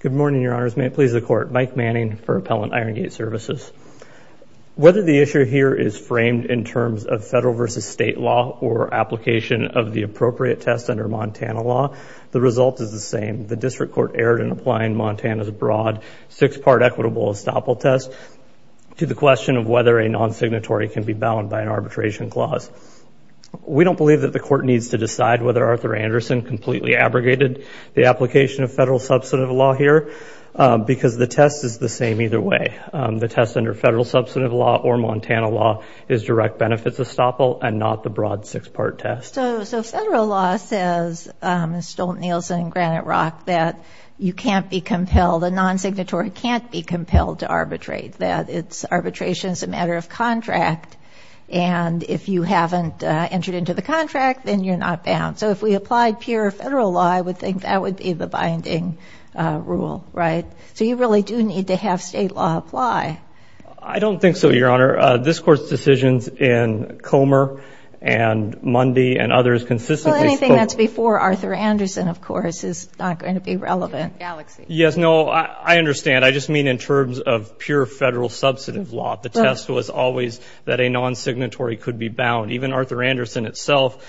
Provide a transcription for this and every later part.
Good morning, Your Honors. May it please the Court. Mike Manning for Appellant Irongate Services. Whether the issue here is framed in terms of federal versus state law or application of the appropriate test under Montana law, the result is the same. The District Court erred in applying Montana's broad six-part equitable estoppel test to the question of whether a non-signatory can be bound by an arbitration clause. We don't believe that the Court needs to decide whether Arthur Anderson completely abrogated the application of federal substantive law here, because the test is the same either way. The test under federal substantive law or Montana law is direct benefits estoppel and not the broad six-part test. So federal law says, Stolt-Nielsen and Granite Rock, that you can't be compelled, a non-signatory can't be compelled to arbitrate, that its arbitration is a matter of contract. And if you haven't entered into the contract, then you're not bound. So if we applied pure federal law, I would think that would be the binding rule, right? So you really do need to have state law apply. I don't think so, Your Honor. This Court's decisions in Comer and Mundy and others consistently spoke of Well, anything that's before Arthur Anderson, of course, is not going to be relevant. Galaxy Yes, no, I understand. I just mean in terms of pure federal substantive law. The test was always that a non-signatory could be bound. Even Arthur Anderson itself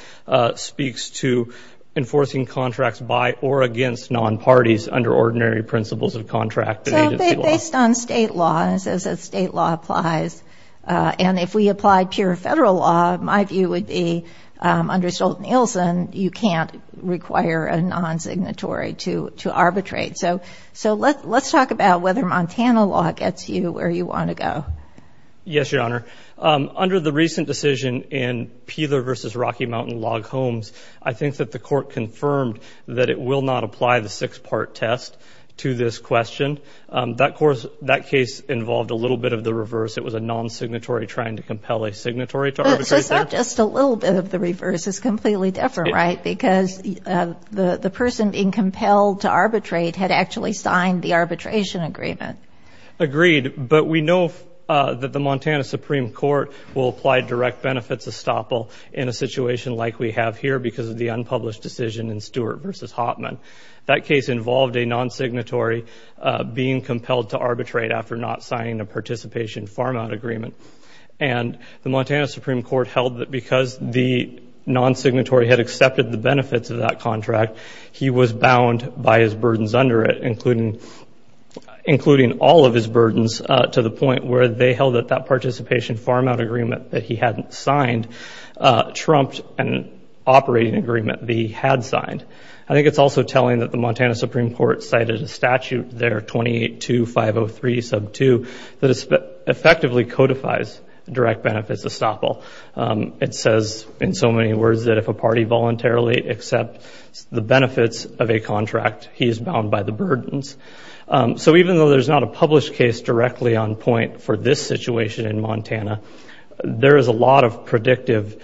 speaks to enforcing contracts by or against non-parties under ordinary principles of contract. So based on state laws, as a state law applies, and if we applied pure federal law, my view would be under Stolt-Nielsen, you can't require a non-signatory to arbitrate. So let's talk about whether Montana law gets you where you want to go. Yes, Your Honor. Under the recent decision in Peeler v. Rocky Mountain Log Homes, I think that the Court confirmed that it will not apply the six-part test to this question. That case involved a little bit of the reverse. It was a non-signatory trying to compel a signatory to arbitrate. So it's not just a little bit of the reverse. It's completely different, right? Because the person being compelled to arbitrate had actually signed the arbitration agreement. Agreed. But we know that the Montana Supreme Court will apply direct benefits estoppel in a situation like we have here because of the unpublished decision in Stewart v. Hoffman. That case involved a non-signatory being compelled to arbitrate after not signing a participation farm-out agreement. And the Montana Supreme Court held that because the non-signatory had accepted the benefits of that contract, he was bound by his burdens under it, including all of his burdens to the point where they held that that participation farm-out agreement that he hadn't signed trumped an operating agreement that he had signed. I think it's also telling that the Montana Supreme Court cited a statute there, 28-2-503-2, that effectively codifies direct benefits estoppel. It says in so many words that if a party voluntarily accepts the benefits of a contract, he is bound by the burdens. So even though there's not a published case directly on point for this situation in Montana, there is a lot of predictive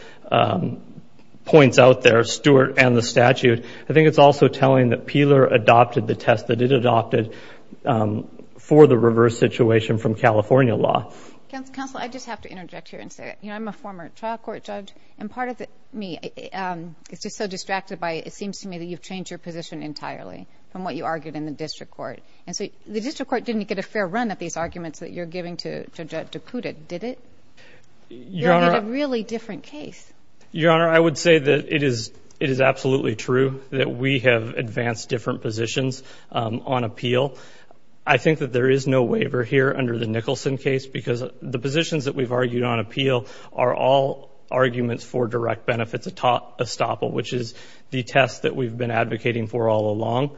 points out there, Stewart and the statute. I think it's also telling that Peeler adopted the test that it adopted for the reverse situation from California law. Counselor, I just have to interject here and say, you know, I'm a former trial court judge and part of me is just so distracted by it seems to me that you've changed your position entirely from what you argued in the district court. And so the district court didn't get a fair run at these arguments that you're giving to Judge Dakota, did it? Your Honor, I would say that it is, it is absolutely true that we have advanced different positions on appeal. I think that there is no waiver here under the Nicholson case because the positions that we've argued on appeal are all arguments for direct benefits estoppel, which is the test that we've been advocating for all along.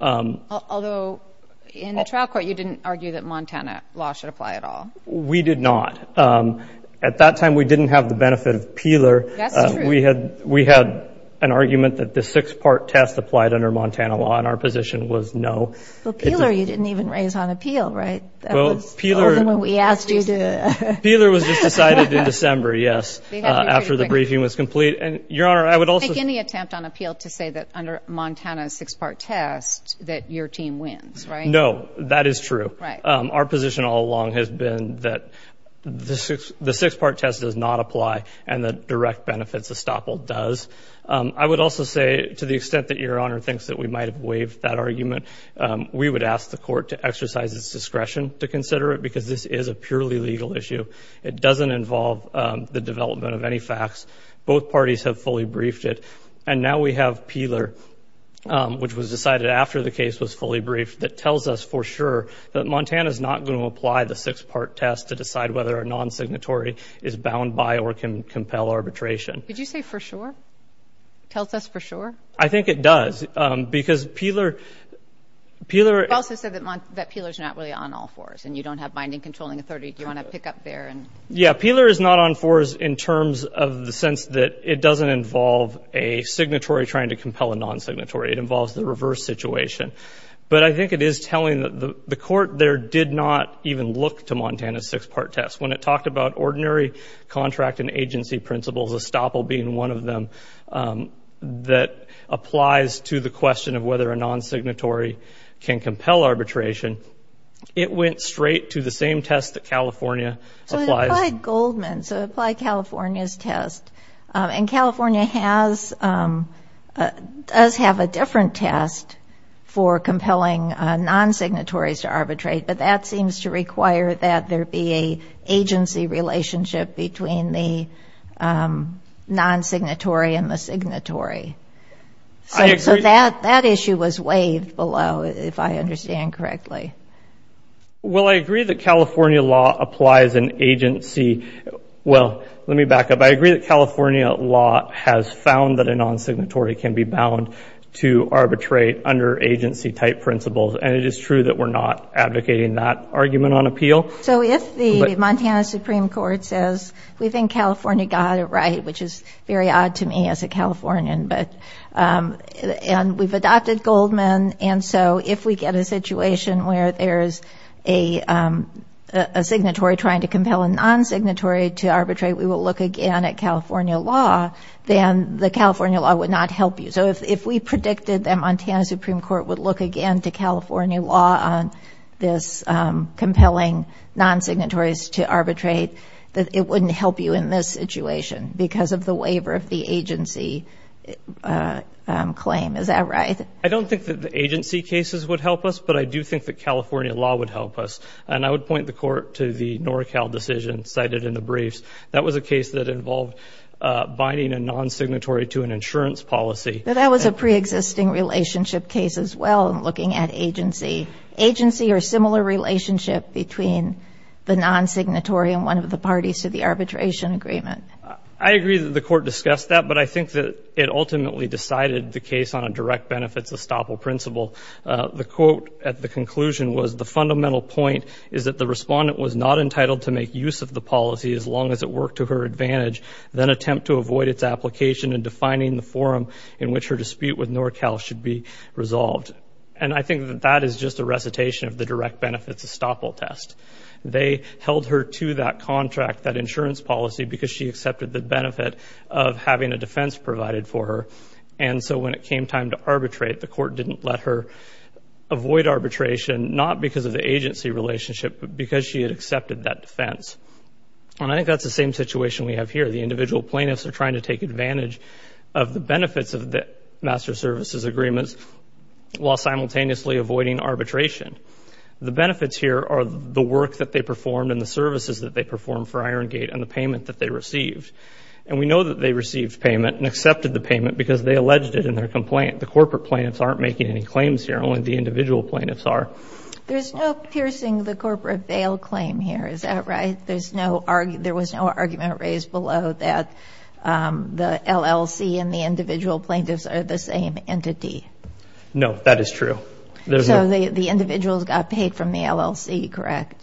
Although in the trial court, you didn't argue that Montana law should apply at all. We did not. At that time, we didn't have the benefit of Peeler. We had, we had an argument that the six-part test applied under Montana law and our position was no. But Peeler, you didn't even raise on appeal, right? Well, Peeler... That was the only one we asked you to... Peeler was just decided in December, yes, after the briefing was complete. And Your Honor, there wasn't any attempt on appeal to say that under Montana's six-part test that your team wins, right? No, that is true. Our position all along has been that the six, the six-part test does not apply and the direct benefits estoppel does. I would also say to the extent that Your Honor thinks that we might have waived that argument, we would ask the court to exercise its discretion to consider it because this is a purely legal issue. It doesn't involve the development of any facts. Both parties have fully briefed it. And now we have Peeler, which was decided after the case was fully briefed, that tells us for sure that Montana's not going to apply the six-part test to decide whether a non-signatory is bound by or can compel arbitration. Did you say for sure? Tells us for sure? I think it does because Peeler, Peeler... You also said that Peeler's not really on all fours and you don't have binding controlling authority. Do you want to pick up there and... Yeah, Peeler is not on fours in terms of the sense that it doesn't involve a signatory trying to compel a non-signatory. It involves the reverse situation. But I think it is telling that the court there did not even look to Montana's six-part test. When it talked about ordinary contract and agency principles, estoppel being one of them, that applies to the question of whether a non-signatory can compel arbitration, it went straight to the same test that California applies. So it applied Goldman, so it applied California's test. And California has, does have a different test for compelling non-signatories to arbitrate, but that seems to require that there be a agency relationship between the non-signatory and the signatory. I agree... So that issue was waived below, if I understand correctly. Well, I agree that California law applies in agency. Well, let me back up. I agree that California law has found that a non-signatory can be bound to arbitrate under agency type principles. And it is true that we're not advocating that argument on appeal. So if the Montana Supreme Court says, we think California got it right, which is very odd to me as a Californian, but, and we've adopted Goldman. And so if we get a situation where there's a signatory trying to compel a non-signatory to arbitrate, we will look again at California law, then the California law would not help you. So if we predicted that Montana Supreme Court would look again to California law on this compelling non-signatories to arbitrate, that it wouldn't help you in this situation because of the waiver of the agency claim. Is that right? I don't think that the agency cases would help us, but I do think that California law would help us. And I would point the court to the NorCal decision cited in the briefs. That was a case that involved binding a non-signatory to an insurance policy. That was a pre-existing relationship case as well, looking at agency. Agency or similar relationship between the non-signatory and one of the parties to the arbitration agreement. I agree that the court discussed that, but I think that it ultimately decided the case on a direct benefits estoppel principle. The quote at the conclusion was, the fundamental point is that the respondent was not entitled to make use of the policy as long as it worked to her advantage, then attempt to avoid its application in defining the forum in which her dispute with NorCal should be resolved. And I think that that is just a recitation of the direct benefits estoppel test. They held her to that contract, that insurance policy because she accepted the benefit of having a defense provided for her. And so when it came time to arbitrate, the court didn't let her avoid arbitration, not because of the agency relationship, but because she had accepted that defense. And I think that's the same situation we have here. The individual plaintiffs are trying to take advantage of the benefits of the master services agreements while simultaneously avoiding arbitration. The benefits here are the work that they performed and the services that they performed for Iron Payment that they received. And we know that they received payment and accepted the payment because they alleged it in their complaint. The corporate plaintiffs aren't making any claims here, only the individual plaintiffs are. There's no piercing the corporate bail claim here, is that right? There was no argument raised below that the LLC and the individual plaintiffs are the same entity? No, that is true. The individuals got paid from the LLC, correct?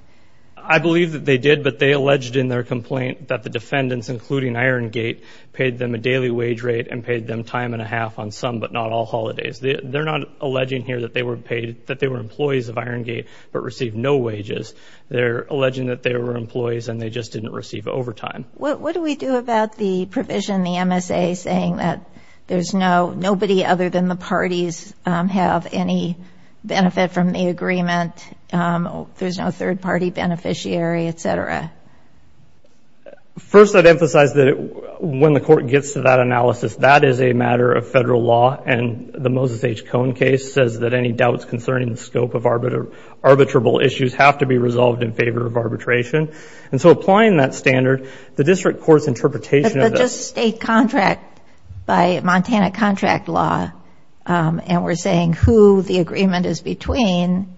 I believe that they did, but they alleged in their complaint that the defendants, including Iron Gate, paid them a daily wage rate and paid them time and a half on some but not all holidays. They're not alleging here that they were paid, that they were employees of Iron Gate, but received no wages. They're alleging that they were employees and they just didn't receive overtime. What do we do about the provision, the MSA, saying that there's no, nobody other than the parties have any benefit from the agreement, there's no third-party beneficiary, et cetera? First I'd emphasize that when the court gets to that analysis, that is a matter of federal law and the Moses H. Cohn case says that any doubts concerning the scope of arbitrable issues have to be resolved in favor of arbitration. And so applying that standard, the district court's interpretation of this... By Montana contract law, and we're saying who the agreement is between,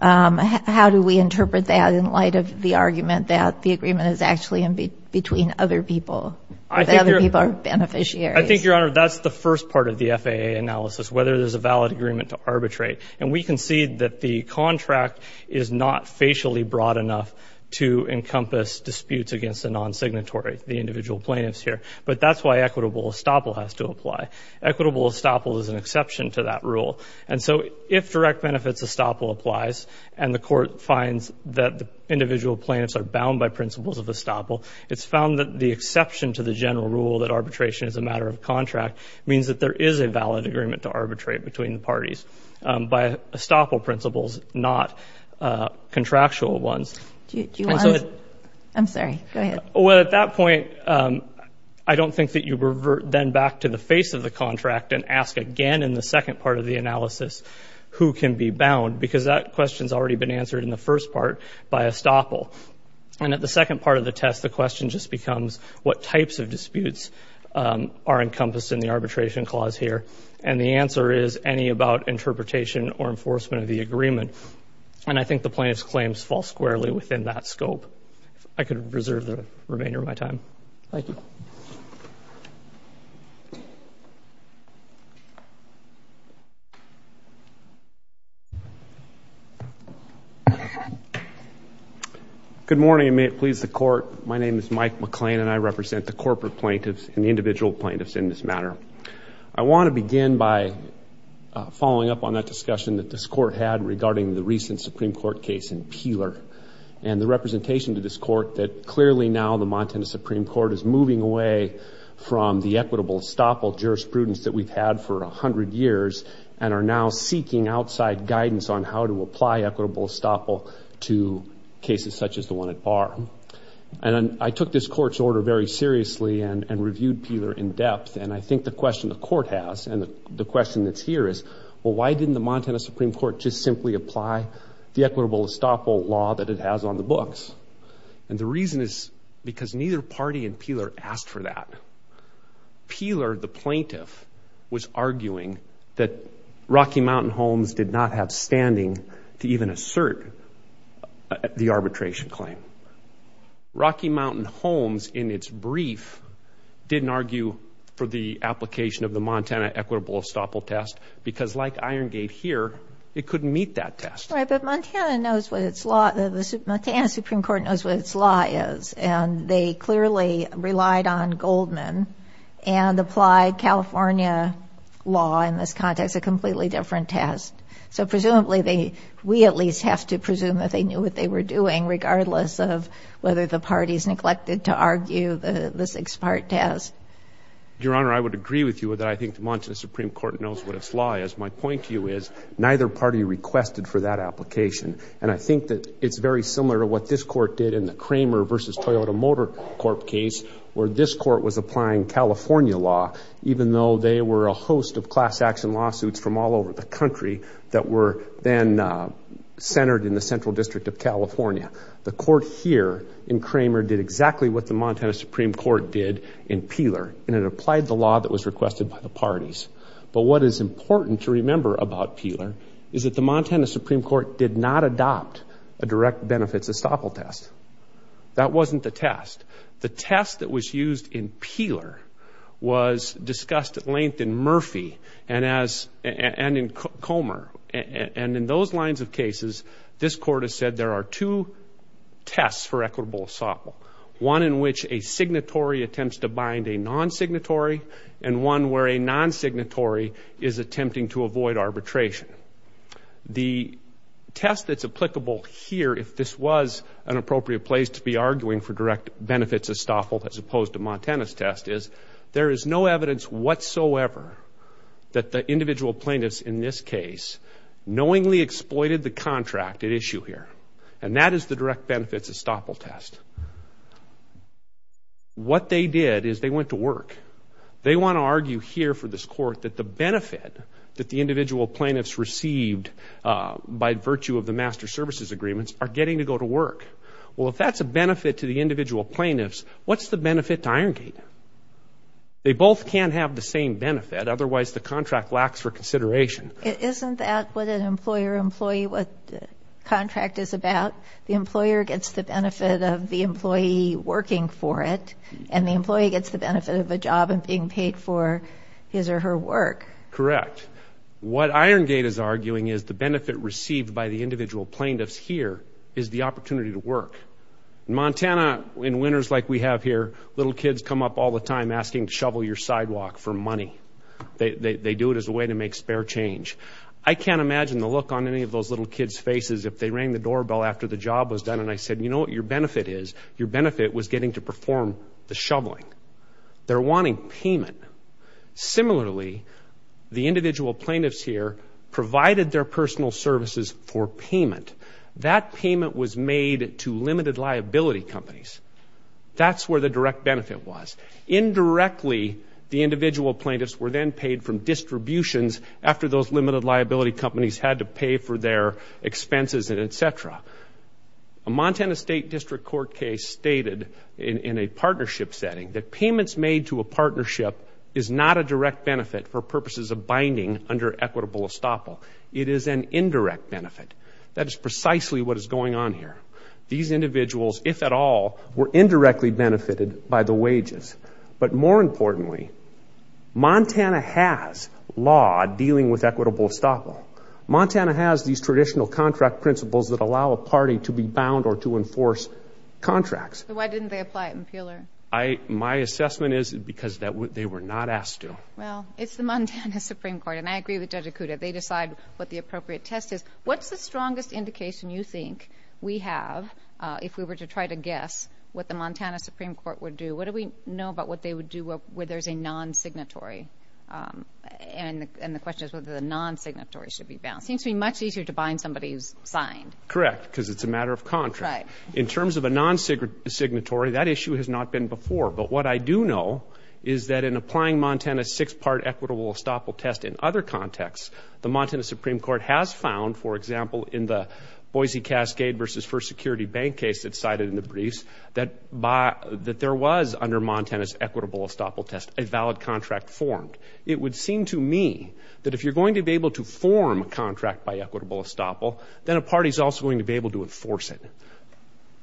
how do we interpret that in light of the argument that the agreement is actually between other people, that other people are beneficiaries? I think, Your Honor, that's the first part of the FAA analysis, whether there's a valid agreement to arbitrate. And we concede that the contract is not facially broad enough to encompass disputes against the non-signatory, the individual plaintiffs here. But that's why equitable estoppel has to apply. Equitable estoppel is an exception to that rule. And so if direct benefits estoppel applies and the court finds that the individual plaintiffs are bound by principles of estoppel, it's found that the exception to the general rule that arbitration is a matter of contract means that there is a valid agreement to arbitrate between the parties by estoppel principles, not contractual ones. Well, at that point, I don't think that you revert then back to the face of the contract and ask again in the second part of the analysis who can be bound, because that question's already been answered in the first part by estoppel. And at the second part of the test, the question just becomes what types of disputes are encompassed in the arbitration clause here. And the answer is any about interpretation or enforcement of the agreement. And I think the plaintiff's claims fall squarely within that scope. I could reserve the remainder of my time. Thank you. Good morning, and may it please the court. My name is Mike McLean, and I represent the corporate plaintiffs and the individual plaintiffs in this matter. I want to begin by following up on that discussion that this court had regarding the recent Supreme Court case in Peeler, and the representation to this court that clearly now the Montana Supreme Court is moving away from the equitable estoppel jurisprudence that we've had for a hundred years and are now seeking outside guidance on how to apply equitable estoppel to cases such as the one at Barr. And I took this court's order very seriously and reviewed Peeler in Why didn't the Montana Supreme Court just simply apply the equitable estoppel law that it has on the books? And the reason is because neither party in Peeler asked for that. Peeler, the plaintiff, was arguing that Rocky Mountain Homes did not have standing to even assert the arbitration claim. Rocky Mountain Homes, in its brief, didn't argue for the application of the Montana equitable estoppel test because, like Iron Gate here, it couldn't meet that test. Right, but Montana knows what its law, the Montana Supreme Court knows what its law is, and they clearly relied on Goldman and applied California law in this context, a completely different test. So presumably they, we at least, have to presume that they knew what they were doing regardless of whether the parties neglected to argue the six-part test. Your Honor, I would agree with you that I think the Montana Supreme Court knows what its law is. My point to you is, neither party requested for that application. And I think that it's very similar to what this court did in the Kramer versus Toyota Motor Corp case, where this court was applying California law, even though they were a host of class action lawsuits from all over the country that were then centered in the Central District of California. The court here in Kramer did exactly what the Montana Supreme Court did in Peeler, and it applied the law that was requested by the parties. But what is important to remember about Peeler is that the Montana Supreme Court did not adopt a direct benefits estoppel test. That wasn't the test. The test that was used in Peeler was discussed at length in Murphy and as, and in Comer. And in those lines of cases, this court has said there are two tests for equitable estoppel, one in which a signatory attempts to bind a non-signatory and one where a non-signatory is attempting to avoid arbitration. The test that's applicable here, if this was an appropriate place to be arguing for direct benefits estoppel as opposed to Montana's test, is there is no evidence whatsoever that the individual plaintiffs in this case knowingly exploited the contract at issue here. And that is the direct benefits estoppel test. What they did is they went to work. They want to argue here for this court that the benefit that the individual plaintiffs received by virtue of the master services agreements are getting to go to work. Well, if that's a benefit to the individual plaintiffs, what's the benefit to Iron Gate? They both can't have the same benefit, otherwise the contract lacks for consideration. Isn't that what an employer-employee contract is about? The employer gets the benefit of the employee working for it and the employee gets the benefit of a job and being paid for his or her work. Correct. What Iron Gate is arguing is the benefit received by the individual plaintiffs here is the opportunity to work. Montana, in winters like we have here, little kids come up all the time asking to shovel your sidewalk for money. They do it as a way to make spare change. I can't imagine the look on any of those little kids' faces if they rang the doorbell after the job was done and I said, you know what your benefit is? Your benefit was getting to perform the shoveling. They're wanting payment. Similarly, the individual plaintiffs here provided their personal services for payment. That payment was made to limited liability companies. That's where the direct benefit was. Indirectly, the individual plaintiffs were then paid from distributions after those limited liability companies had to pay for their expenses, etc. A Montana State District Court case stated in a partnership setting that payments made to a partnership is not a direct benefit for purposes of binding under equitable estoppel. It is an indirect benefit. That is precisely what is going on here. These individuals, if at all, were indirectly benefited by the wages. But more importantly, Montana has law dealing with equitable estoppel. Montana has these traditional contract principles that allow a party to be bound or to enforce contracts. So why didn't they apply it in Peeler? My assessment is because they were not asked to. Well, it's the Montana Supreme Court and I agree with Judge Acuda. They decide what the Montana Supreme Court would do. What do we know about what they would do where there's a non-signatory? And the question is whether the non-signatory should be bound. It seems to be much easier to bind somebody who's signed. Correct, because it's a matter of contract. In terms of a non-signatory, that issue has not been before. But what I do know is that in applying Montana's six-part equitable estoppel test in other contexts, the Montana Supreme Court has found, for example, in the Boise Cascade v. First Security Bank case that's cited in the briefs, that there was, under Montana's equitable estoppel test, a valid contract formed. It would seem to me that if you're going to be able to form a contract by equitable estoppel, then a party's also going to be able to enforce it.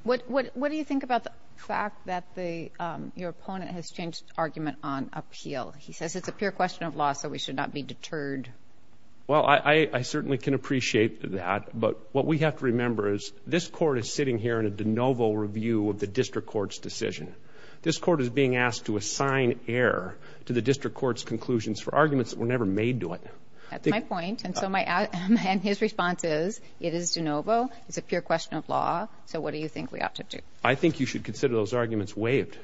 What do you think about the fact that your opponent has changed argument on appeal? He says it's a pure question of law, so we should not be deterred. Well, I certainly can appreciate that, but what we have to remember is this Court is sitting here in a de novo review of the District Court's decision. This Court is being asked to assign error to the District Court's conclusions for arguments that were never made to it. That's my point, and his response is, it is de novo, it's a pure question of law, so what do you think we ought to do? I think you should consider those arguments waived.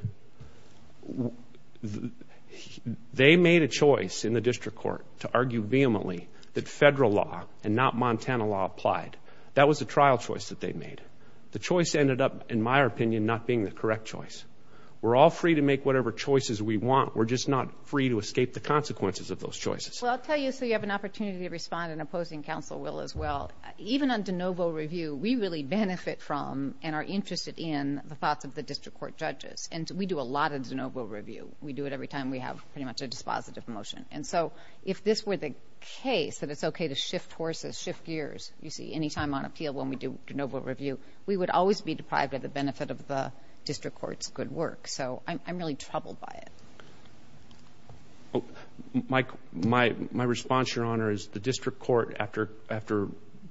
They made a choice in the District Court to argue vehemently that federal law and not Montana law applied. That was a trial choice that they made. The choice ended up, in my opinion, not being the correct choice. We're all free to make whatever choices we want, we're just not free to escape the consequences of those choices. Well, I'll tell you, so you have an opportunity to respond, and opposing counsel will as well. Even on de novo review, we really benefit from and are interested in the thoughts of the District Court judges, and we do a lot of de novo review. We do it every time we have pretty much a dispositive motion. And so if this were the case, that it's okay to shift horses, shift gears, you see, any time on appeal when we do de novo review, we would always be deprived of the benefit of the District Court's good work. So I'm really troubled by it. My response, Your Honor, is the District Court, after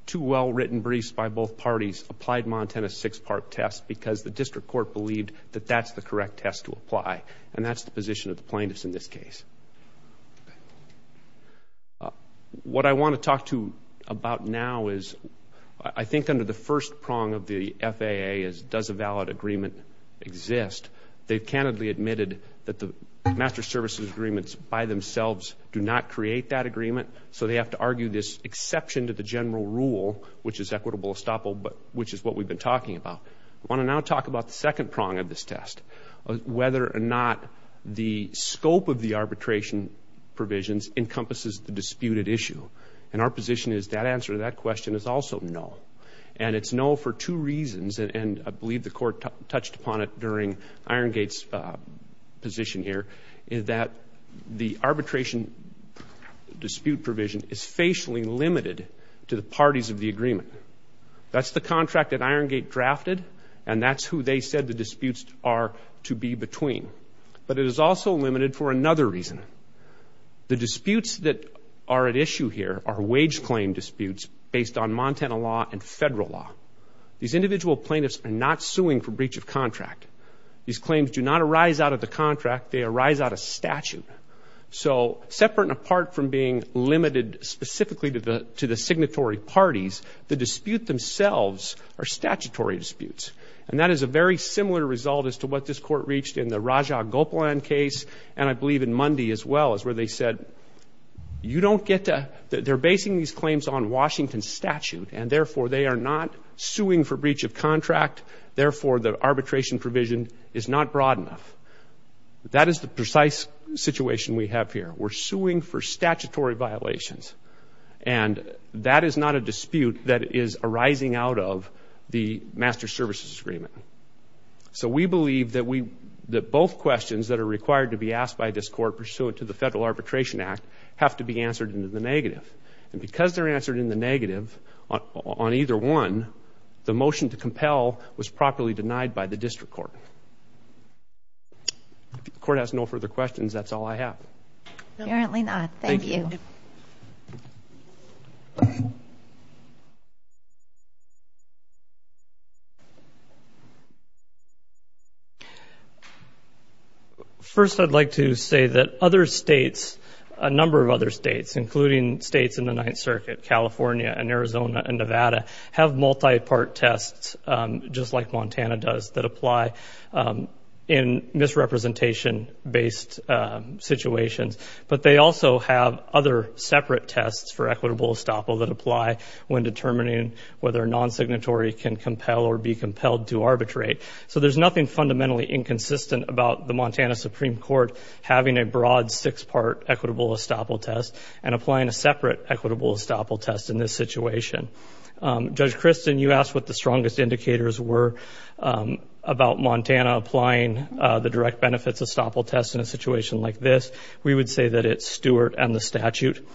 two well-written briefs by both parties, applied Montana's six-part test because the District Court believed that that's the correct test to apply, and that's the position of the plaintiffs in this case. What I want to talk to you about now is, I think under the first prong of the FAA is does a valid agreement exist? They've candidly admitted that the master services agreements by themselves do not create that agreement, so they have to argue this exception to the general rule, which is equitable estoppel, which is what we've been talking about. I want to now talk about the second prong of this test, whether or not the scope of the arbitration provisions encompasses the disputed issue. And our position is that answer to that question is also no. And it's no for two reasons, and I believe the Court touched upon it during Irongate's position here, is that the arbitration dispute provision is facially limited to the parties of the agreement. That's the contract that Irongate drafted, and that's who they said the disputes are to be between. But it is also limited for another reason. The disputes that are at issue here are wage claim disputes based on Montana law and federal law. These individual plaintiffs are not suing for breach of contract. These claims do not arise out of the contract, they arise out of statute. So separate and apart from being limited specifically to the signatory parties, the dispute themselves are statutory disputes. And that is a very similar result as to what this Court reached in the Rajah Gopalan case, and I believe in Mundy as well, is where they said, you don't get to, they're basing these claims on Washington statute, and therefore they are not suing for breach of contract, therefore the arbitration provision is not broad enough. That is the precise situation we have here. We're suing for statutory violations, and that is not a dispute that is arising out of the Master Services Agreement. So we believe that both questions that are required to be asked by this Court pursuant to the Federal Arbitration Act have to be answered in the negative. And because they're answered in the negative on either one, the motion to compel was properly denied by the District Court. If the Court has no further questions, that's all I have. Apparently not. Thank you. First I'd like to say that other states, a number of other states, including states in the Ninth Circuit, California and Arizona and Nevada, have multi-part tests, just like situations, but they also have other separate tests for equitable estoppel that apply when determining whether a non-signatory can compel or be compelled to arbitrate. So there's nothing fundamentally inconsistent about the Montana Supreme Court having a broad six-part equitable estoppel test and applying a separate equitable estoppel test in this situation. Judge Christin, you asked what the strongest indicators were about Montana applying the direct benefits estoppel test in a situation like this. We would say that it's Stewart and the statute.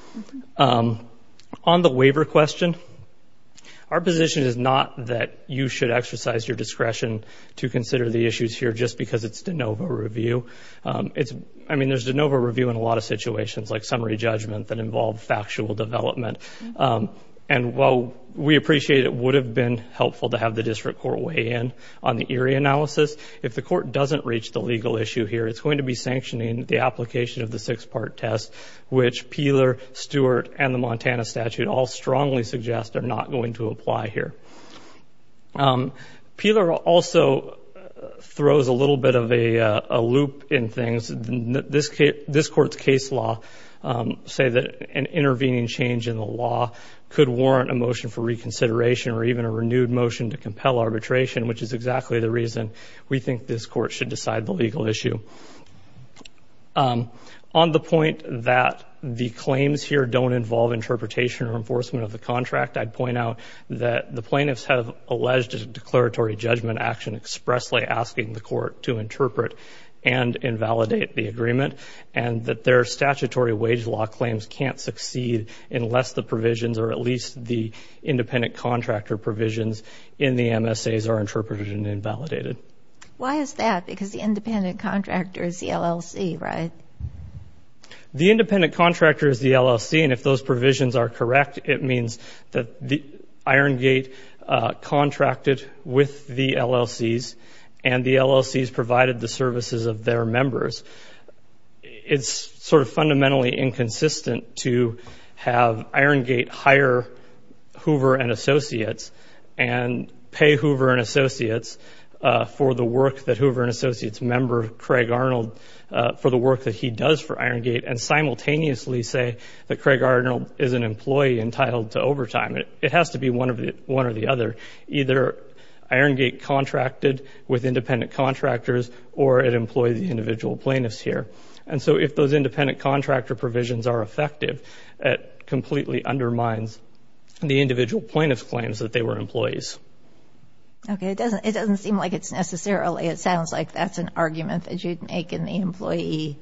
On the waiver question, our position is not that you should exercise your discretion to consider the issues here just because it's de novo review. I mean, there's de novo review in a lot of situations, like summary judgment that involve factual development. And while we appreciate it would have been helpful to have the District Court weigh in on the Erie analysis, if the court doesn't reach the legal issue here, it's going to be sanctioning the application of the six-part test, which Peeler, Stewart, and the Montana statute all strongly suggest are not going to apply here. Peeler also throws a little bit of a loop in things. This court's case law say that an intervening change in the law could warrant a motion for reconsideration or even a renewed motion to compel arbitration, which is exactly the reason we think this court should decide the legal issue. On the point that the claims here don't involve interpretation or enforcement of the contract, I'd point out that the plaintiffs have alleged a declaratory judgment action expressly asking the court to interpret and invalidate the agreement, and that their statutory wage law claims can't succeed unless the provisions or at least the independent contractor provisions in the MSAs are interpreted and invalidated. Why is that? Because the independent contractor is the LLC, right? The independent contractor is the LLC, and if those provisions are correct, it means that Iron Gate contracted with the LLCs, and the LLCs provided the services of their members. It's sort of fundamentally inconsistent to have Iron Gate hire Hoover and Associates and pay Hoover and Associates for the work that Hoover and Associates member Craig Arnold, for the work that he does for Iron Gate, and simultaneously say that Craig Arnold is an employee entitled to overtime. It has to be one or the other. Either Iron Gate contracted with independent contractors, or it employed the individual plaintiffs here. And so if those independent contractor provisions are effective, it completely undermines the individual plaintiffs' claims that they were employees. Okay, it doesn't seem like it's necessarily. It sounds like that's an argument that you'd make in the employee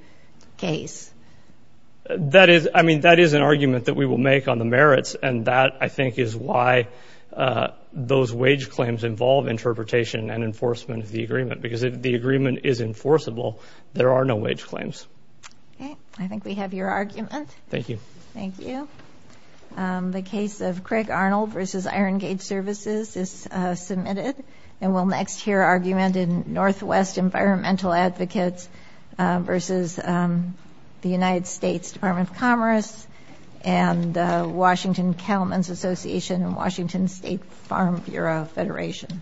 case. That is, I mean, that is an argument that we will make on the merits, and that, I think, is why those wage claims involve interpretation and enforcement of the agreement. Because if the agreement is enforceable, there are no wage claims. Okay, I think we have your argument. Thank you. Thank you. The case of Craig Arnold versus Iron Gate Services is submitted, and we'll next hear argument in Northwest Environmental Advocates versus the United States Department of Commerce and Washington Cattlemen's Association and Washington State Farm Bureau Federation.